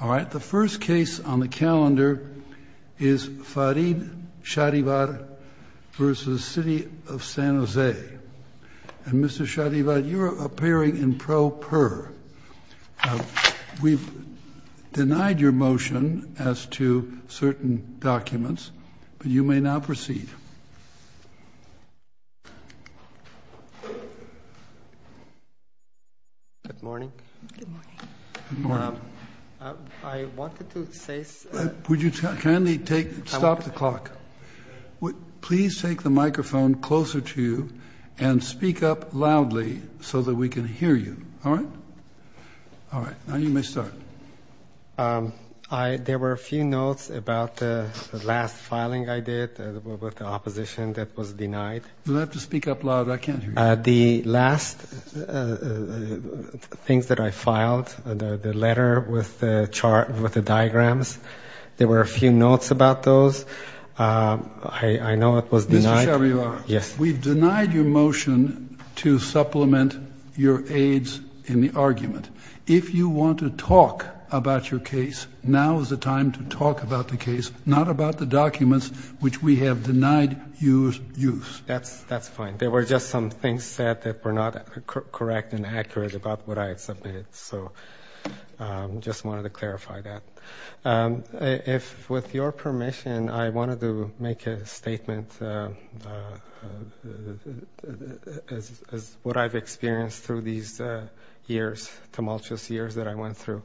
All right, the first case on the calendar is Farid Shahrivar v. City of San Jose. And Mr. Shahrivar, you're appearing in pro per. We've denied your motion as to certain documents, but you may now proceed. Thank you. Good morning. Good morning. Good morning. I wanted to say – Would you kindly take – stop the clock. Please take the microphone closer to you and speak up loudly so that we can hear you. All right? All right. Now you may start. There were a few notes about the last filing I did with the opposition that was denied. You'll have to speak up loud. I can't hear you. The last things that I filed, the letter with the diagrams, there were a few notes about those. I know it was denied. Mr. Shahrivar, we've denied your motion to supplement your aides in the argument. If you want to talk about your case, now is the time to talk about the case, not about the documents which we have denied your use. That's fine. There were just some things said that were not correct and accurate about what I had submitted. So I just wanted to clarify that. With your permission, I wanted to make a statement as what I've experienced through these years, tumultuous years that I went through.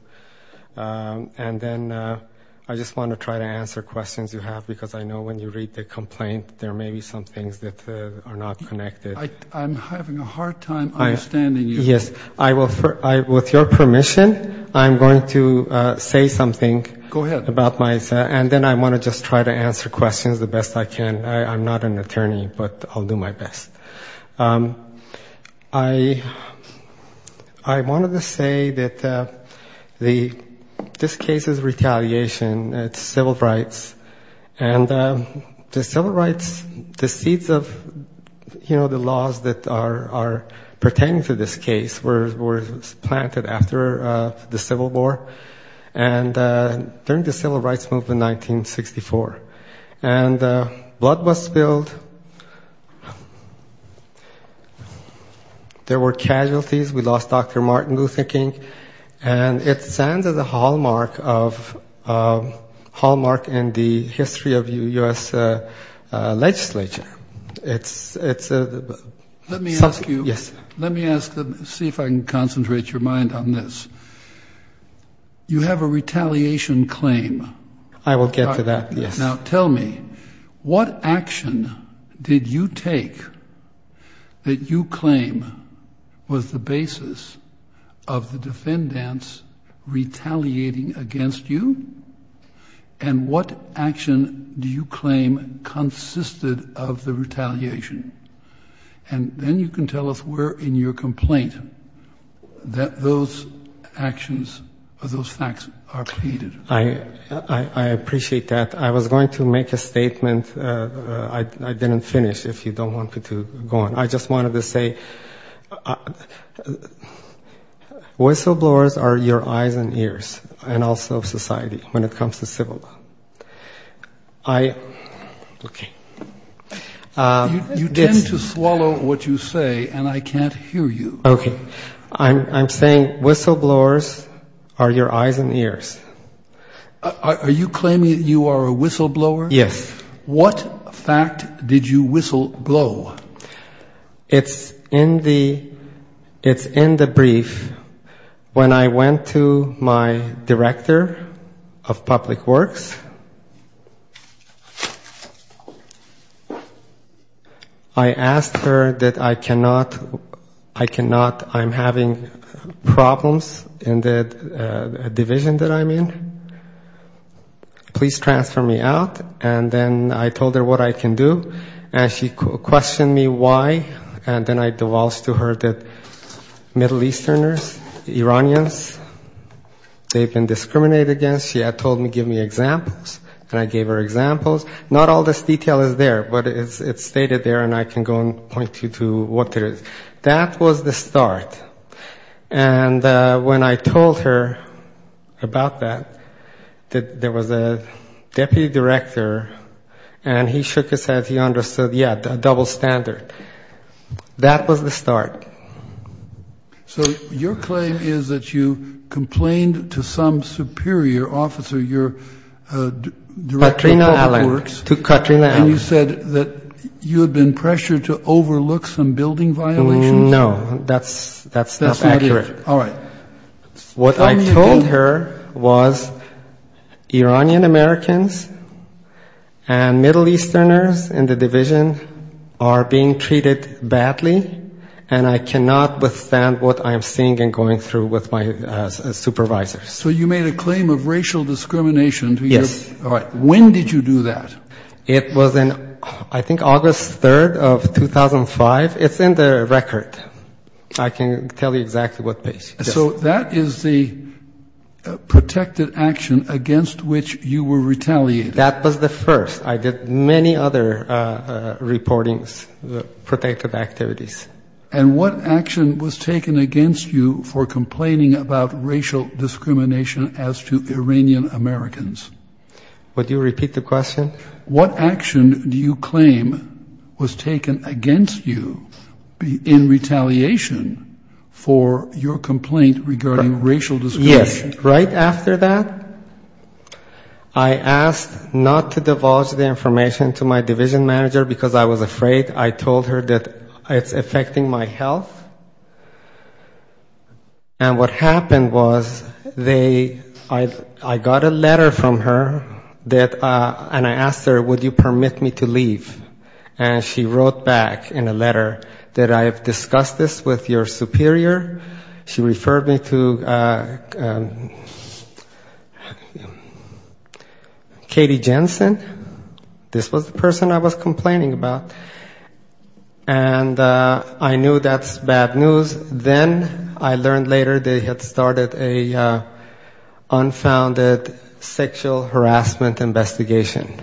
And then I just want to try to answer questions you have because I know when you read the complaint, there may be some things that are not connected. I'm having a hard time understanding you. Yes, with your permission, I'm going to say something. Go ahead. And then I want to just try to answer questions the best I can. I'm not an attorney, but I'll do my best. I wanted to say that this case is retaliation. It's civil rights. And the civil rights, the seeds of, you know, the laws that are pertaining to this case, were planted after the Civil War and during the Civil Rights Movement in 1964. And blood was spilled. There were casualties. We lost Dr. Martin Luther King. And it stands as a hallmark in the history of U.S. legislature. It's something. Let me ask you, see if I can concentrate your mind on this. You have a retaliation claim. I will get to that, yes. Now, tell me, what action did you take that you claim was the basis of the defendants retaliating against you? And what action do you claim consisted of the retaliation? And then you can tell us where in your complaint that those actions or those facts are pleaded. I appreciate that. I was going to make a statement I didn't finish, if you don't want me to go on. I just wanted to say whistleblowers are your eyes and ears, and also of society, when it comes to civil law. You tend to swallow what you say, and I can't hear you. I'm saying whistleblowers are your eyes and ears. Are you claiming that you are a whistleblower? Yes. What fact did you whistleblow? It's in the brief. When I went to my director of public works, I asked her that I cannot, I cannot, I'm having problems in the division that I'm in. Please transfer me out, and then I told her what I can do. And she questioned me why, and then I divulged to her that Middle Easterners, Iranians, they've been discriminated against. She had told me, give me examples, and I gave her examples. Not all this detail is there, but it's stated there, and I can go and point you to what it is. That was the start. And when I told her about that, there was a deputy director, and he shook his head. He understood, yeah, a double standard. That was the start. So your claim is that you complained to some superior officer, your director of public works. And you said that you had been pressured to overlook some building violations. No, that's not accurate. What I told her was Iranian Americans and Middle Easterners in the division are being treated badly, and I cannot withstand what I'm seeing and going through with my supervisors. So you made a claim of racial discrimination to your... Yes. All right. When did you do that? It was in, I think, August 3rd of 2005. It's in the record. I can tell you exactly what page. So that is the protected action against which you were retaliated. That was the first. I did many other reportings, protective activities. And what action was taken against you for complaining about racial discrimination as to Iranian Americans? Would you repeat the question? What action do you claim was taken against you in retaliation for your complaint regarding racial discrimination? Yes, right after that, I asked not to divulge the information to my division manager because I was afraid. I told her that it's affecting my health. And what happened was they, I got a letter from her that, and I asked her, would you permit me to leave. And she wrote back in a letter that I have discussed this with your superior. She referred me to Katie Jensen. This was the person I was complaining about. And I knew that's bad news. Then I learned later they had started an unfounded sexual harassment investigation.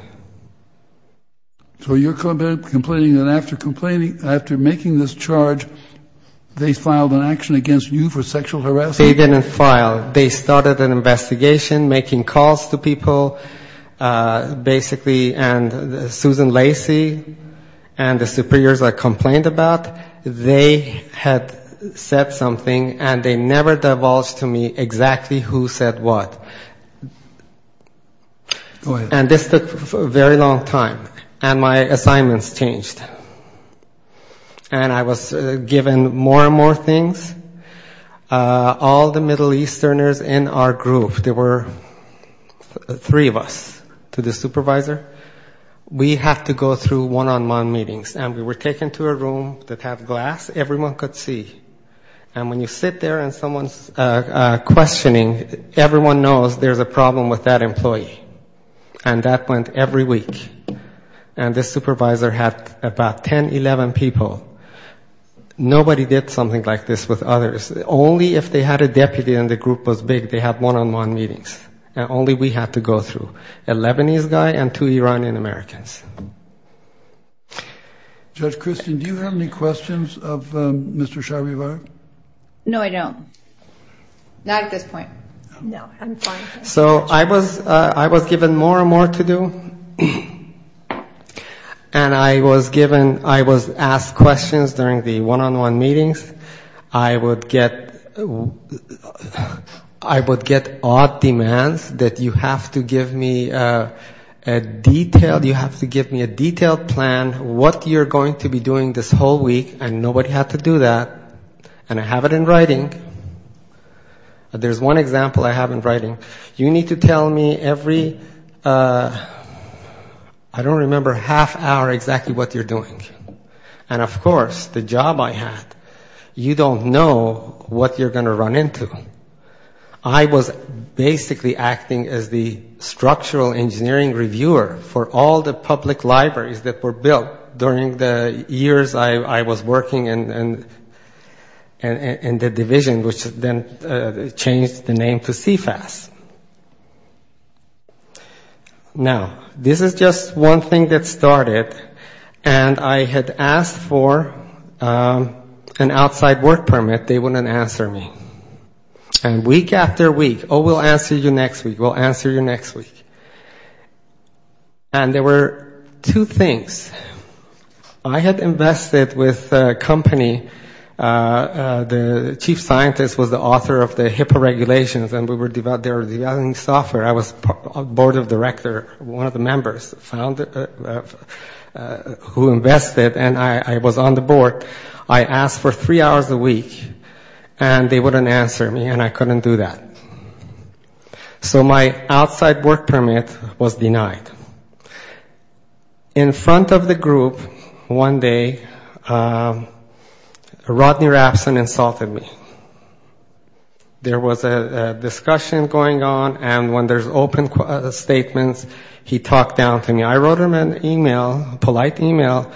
So you're complaining that after making this charge, they filed an action against you for sexual harassment? They didn't file. Basically, and Susan Lacy and the superiors I complained about, they had said something and they never divulged to me exactly who said what. And this took a very long time. And my assignments changed. And I was given more and more things. And this supervisor, we had to go through one-on-one meetings. And we were taken to a room that had glass, everyone could see. And when you sit there and someone's questioning, everyone knows there's a problem with that employee. And that went every week. And this supervisor had about 10, 11 people. Nobody did something like this with others. Only if they had a deputy and the group was big, they had one-on-one meetings. And only we had to go through. A Lebanese guy and two Iranian Americans. So I was given more and more to do. And I was given, I was asked questions during the one-on-one meetings. I would get odd demands that you have to give me a detailed plan what you're going to be doing this whole week. And nobody had to do that. And I have it in writing. I don't remember half hour exactly what you're doing. And of course, the job I had, you don't know what you're going to run into. I was basically acting as the structural engineering reviewer for all the public libraries that were built during the years I was working in the division, which then changed the name to CFAS. Now, this is just one thing that started. And I had asked for an outside work permit. They wouldn't answer me. And week after week, oh, we'll answer you next week, we'll answer you next week. And there were two things. I had invested with a company, the chief scientist was the author of the HIPAA regulations, and we were developing software. I was board of director, one of the members who invested, and I was on the board. I asked for three hours a week, and they wouldn't answer me, and I couldn't do that. So my outside work permit was denied. In front of the group one day, Rodney Rapson insulted me. There was a discussion going on, and when there's open statements, he talked down to me. I wrote him an email, a polite email,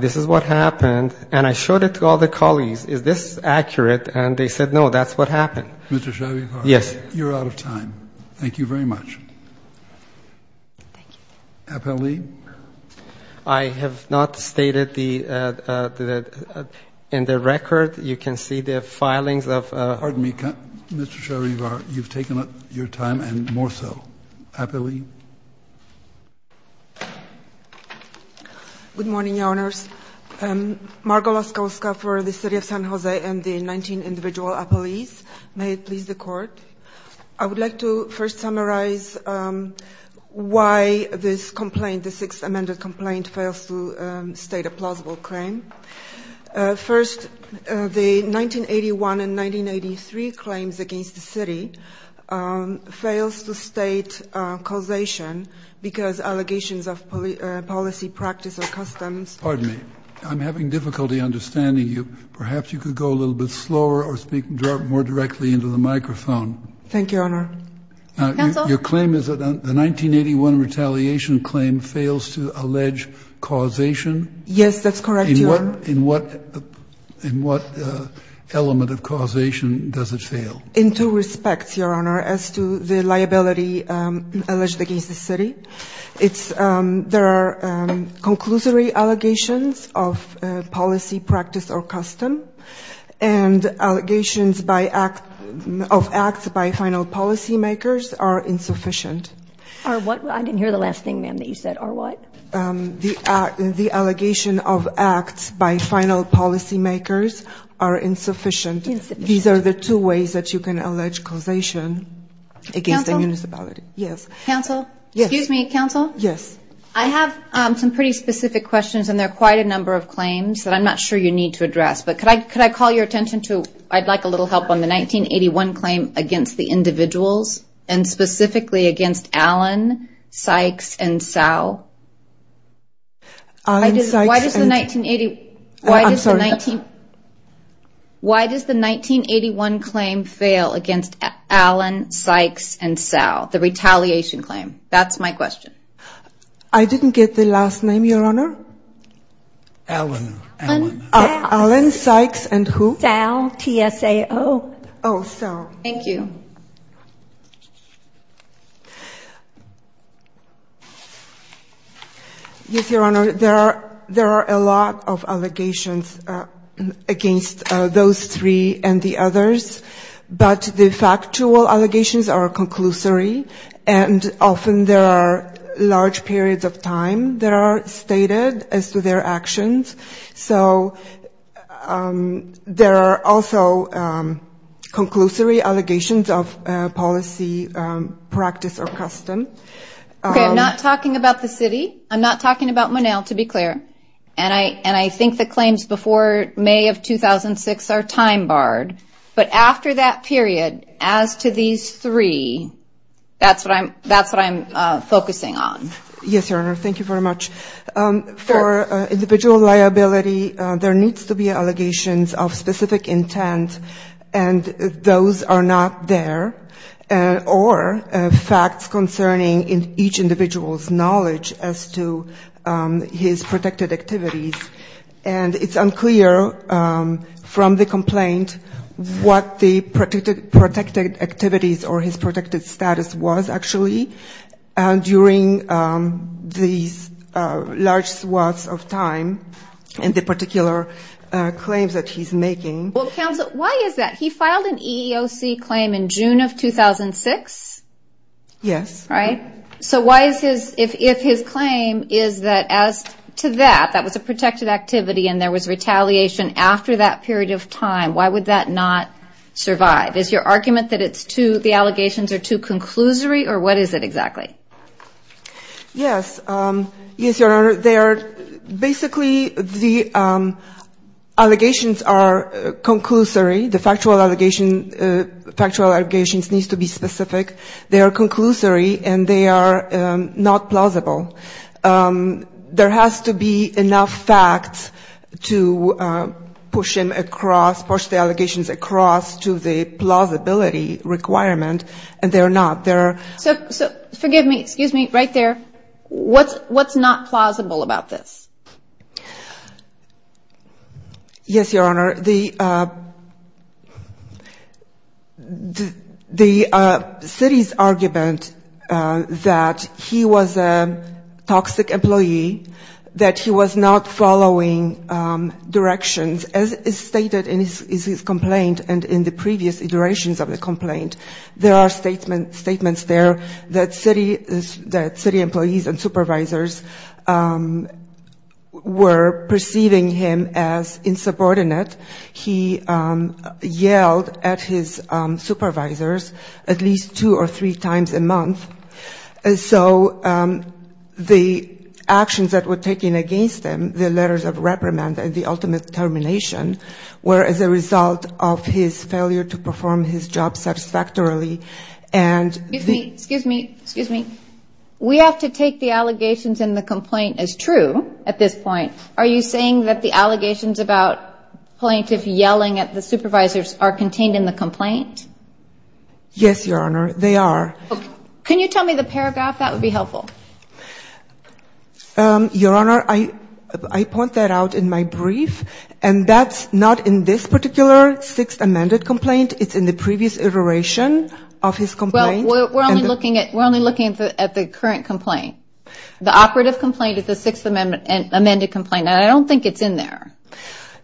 this is what happened, and I showed it to all the colleagues, is this accurate, and they said no, that's what happened. Mr. Shavivar, you're out of time. Thank you very much. Appellee? I have not stated in the record, you can see the filings. Pardon me, Mr. Shavivar, you've taken up your time, and more so. I would like to first summarize why this complaint, the sixth amended complaint, fails to state a plausible claim. First, the 1981 and 1983 claims against the city fails to state causation, because allegations of policy practice or customs. Pardon me, I'm having difficulty understanding you. Perhaps you could go a little bit slower or speak more directly into the microphone. Thank you, Your Honor. Your claim is that the 1981 retaliation claim fails to allege causation? Yes, that's correct, Your Honor. In what element of causation does it fail? In two respects, Your Honor, as to the liability alleged against the city. There are conclusory allegations of policy practice or custom, and allegations of acts by final policy makers are insufficient. I didn't hear the last thing, ma'am, that you said, are what? The allegation of acts by final policy makers are insufficient. These are the two ways that you can allege causation against the municipality. Excuse me, counsel. I have some pretty specific questions, and there are quite a number of claims that I'm not sure you need to address. But could I call your attention to, I'd like a little help on the 1981 claim against the individuals, and specifically against Allen, Sykes, and Sow? Why does the 1981 claim fail against Allen, Sykes, and Sow, the retaliation claim? That's my question. I didn't get the last name, Your Honor. Allen, Sykes, and who? Yes, Your Honor, there are a lot of allegations against those three and the others. But the factual allegations are conclusory, and often there are large periods of time that are stated as to their actions. So there are also conclusory allegations of policy practice or custom. Okay, I'm not talking about the city, I'm not talking about Monell, to be clear, and I think the claims before May of 2006 are time barred. But after that period, as to these three, that's what I'm focusing on. Yes, Your Honor, thank you very much. For individual liability, there needs to be allegations of specific intent, and those are not there, or facts concerning each individual's knowledge as to his protected activities. And it's unclear from the complaint what the protected activities or his protected status was, actually, during these large swaths of time in the particular claims that he's making. Well, counsel, why is that? He filed an EEOC claim in June of 2006? Yes. Right? So why is his, if his claim is that as to that, that was a protected activity and there was retaliation after that period of time, why would that not survive? Is your argument that it's too, the allegations are too conclusory, or what is it exactly? Yes. Yes, Your Honor, they are, basically, the allegations are conclusory, the factual allegations needs to be specific. They are conclusory, and they are not plausible. There has to be enough facts to push him across, push the allegations across to the plausible side. There has to be a plausibility requirement, and there are not. So, forgive me, excuse me, right there, what's not plausible about this? Yes, Your Honor, the city's argument that he was a toxic employee, that he was not following directions, as is stated in his complaint and in the previous iterations of the complaint, there are statements there that city employees and supervisors were perceiving him as insubordinate. He yelled at his supervisors at least two or three times a month, so the actions that were taken against him, the letters of reprimand and the ultimate termination, were as a result of his failure to perform his job satisfactorily. Excuse me, excuse me, we have to take the allegations in the complaint as true at this point. Are you saying that the allegations about plaintiff yelling at the supervisors are contained in the complaint? Yes, Your Honor, they are. Can you tell me the paragraph? That would be helpful. Not in this particular sixth amended complaint, it's in the previous iteration of his complaint. Well, we're only looking at the current complaint. The operative complaint is the sixth amended complaint, and I don't think it's in there.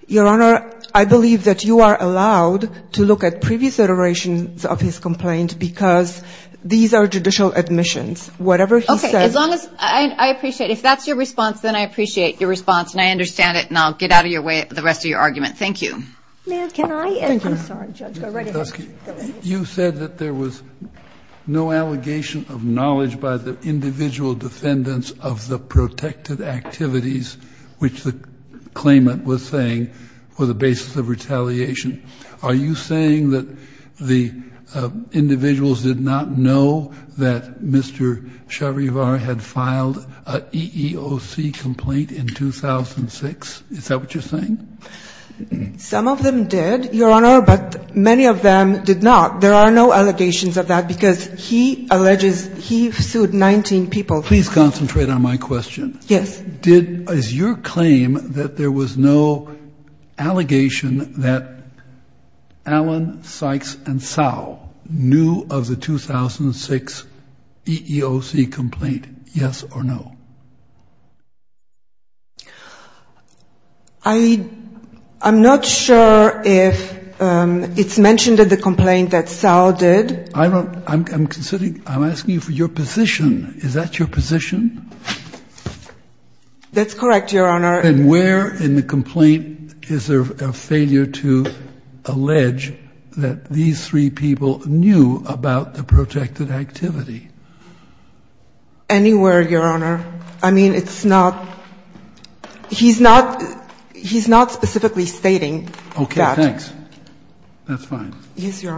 Your Honor, I believe that you are allowed to look at previous iterations of his complaint, because these are judicial admissions. Whatever he says. As long as, I appreciate, if that's your response, then I appreciate your response, and I understand it, and I'll get out of your way with the rest of your argument. Thank you. You said that there was no allegation of knowledge by the individual defendants of the protected activities, which the claimant was saying, were the basis of retaliation. Are you saying that the individuals did not know that Mr. Chavivar had been involved and that he had filed an EEOC complaint in 2006? Is that what you're saying? Some of them did, Your Honor, but many of them did not. There are no allegations of that, because he alleges he sued 19 people. Please concentrate on my question. Yes. Is your claim that there was no allegation that Alan Sykes and Sau knew of the 2006 EEOC complaint, yes or no? I'm not sure if it's mentioned in the complaint that Sau did. I'm asking you for your position. Is that your position? That's correct, Your Honor. And where in the complaint is there a failure to allege that these three people knew about the protected activity? Anywhere, Your Honor. I mean, it's not he's not he's not specifically stating that. Okay, thanks. That's fine. Yes, Your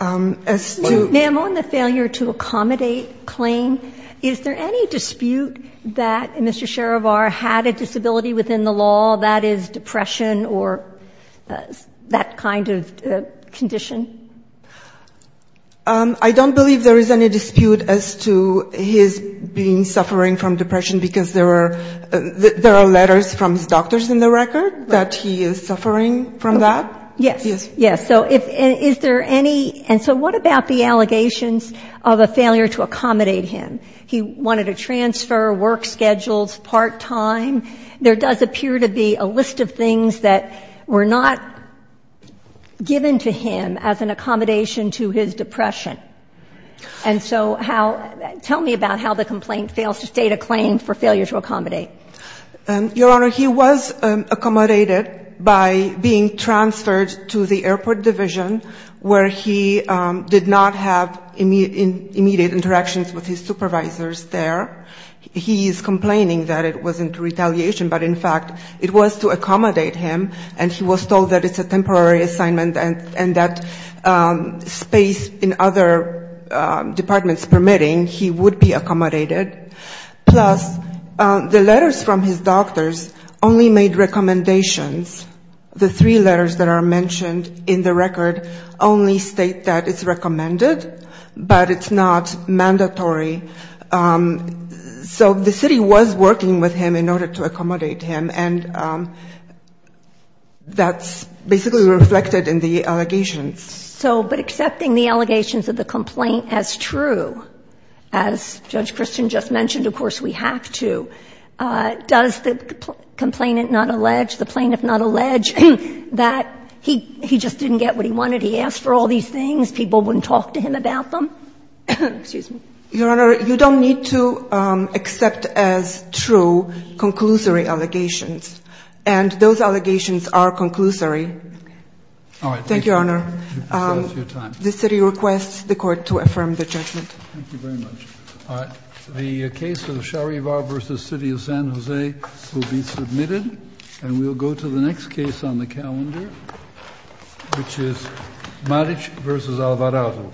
Honor. Ma'am, on the failure to accommodate claim, is there any dispute that Mr. Chavivar had a disability within the law that is depression or that kind of condition? I don't believe there is any dispute as to his being suffering from depression because there are there are letters from his doctors in the record that he is suffering from that. Yes, yes. So is there any and so what about the allegations of a failure to accommodate him? He wanted to transfer work schedules part time. There does appear to be a list of things that were not given to him as an accommodation to his depression. And so how tell me about how the complaint fails to state a claim for failure to accommodate. Your Honor, he was accommodated by being transferred to the airport division where he did not have immediate interactions with his supervisors there. He is complaining that it wasn't retaliation, but in fact it was to accommodate him and he was told that it's a temporary assignment and that space in other departments if it's permitting, he would be accommodated. Plus the letters from his doctors only made recommendations. The three letters that are mentioned in the record only state that it's recommended, but it's not mandatory. So the city was working with him in order to accommodate him and that's basically reflected in the allegations. So but accepting the allegations of the complaint as true, as Judge Christian just mentioned, of course we have to. Does the complainant not allege, the plaintiff not allege that he just didn't get what he wanted, he asked for all these things, people wouldn't talk to him about them? Excuse me. Your Honor, you don't need to accept as true conclusory allegations. All right. Thank you, Your Honor. The city requests the court to affirm the judgment. Thank you very much. All right. The case of Sharivar v. City of San Jose will be submitted and we'll go to the next case on the calendar, which is Maric v. Alvarado.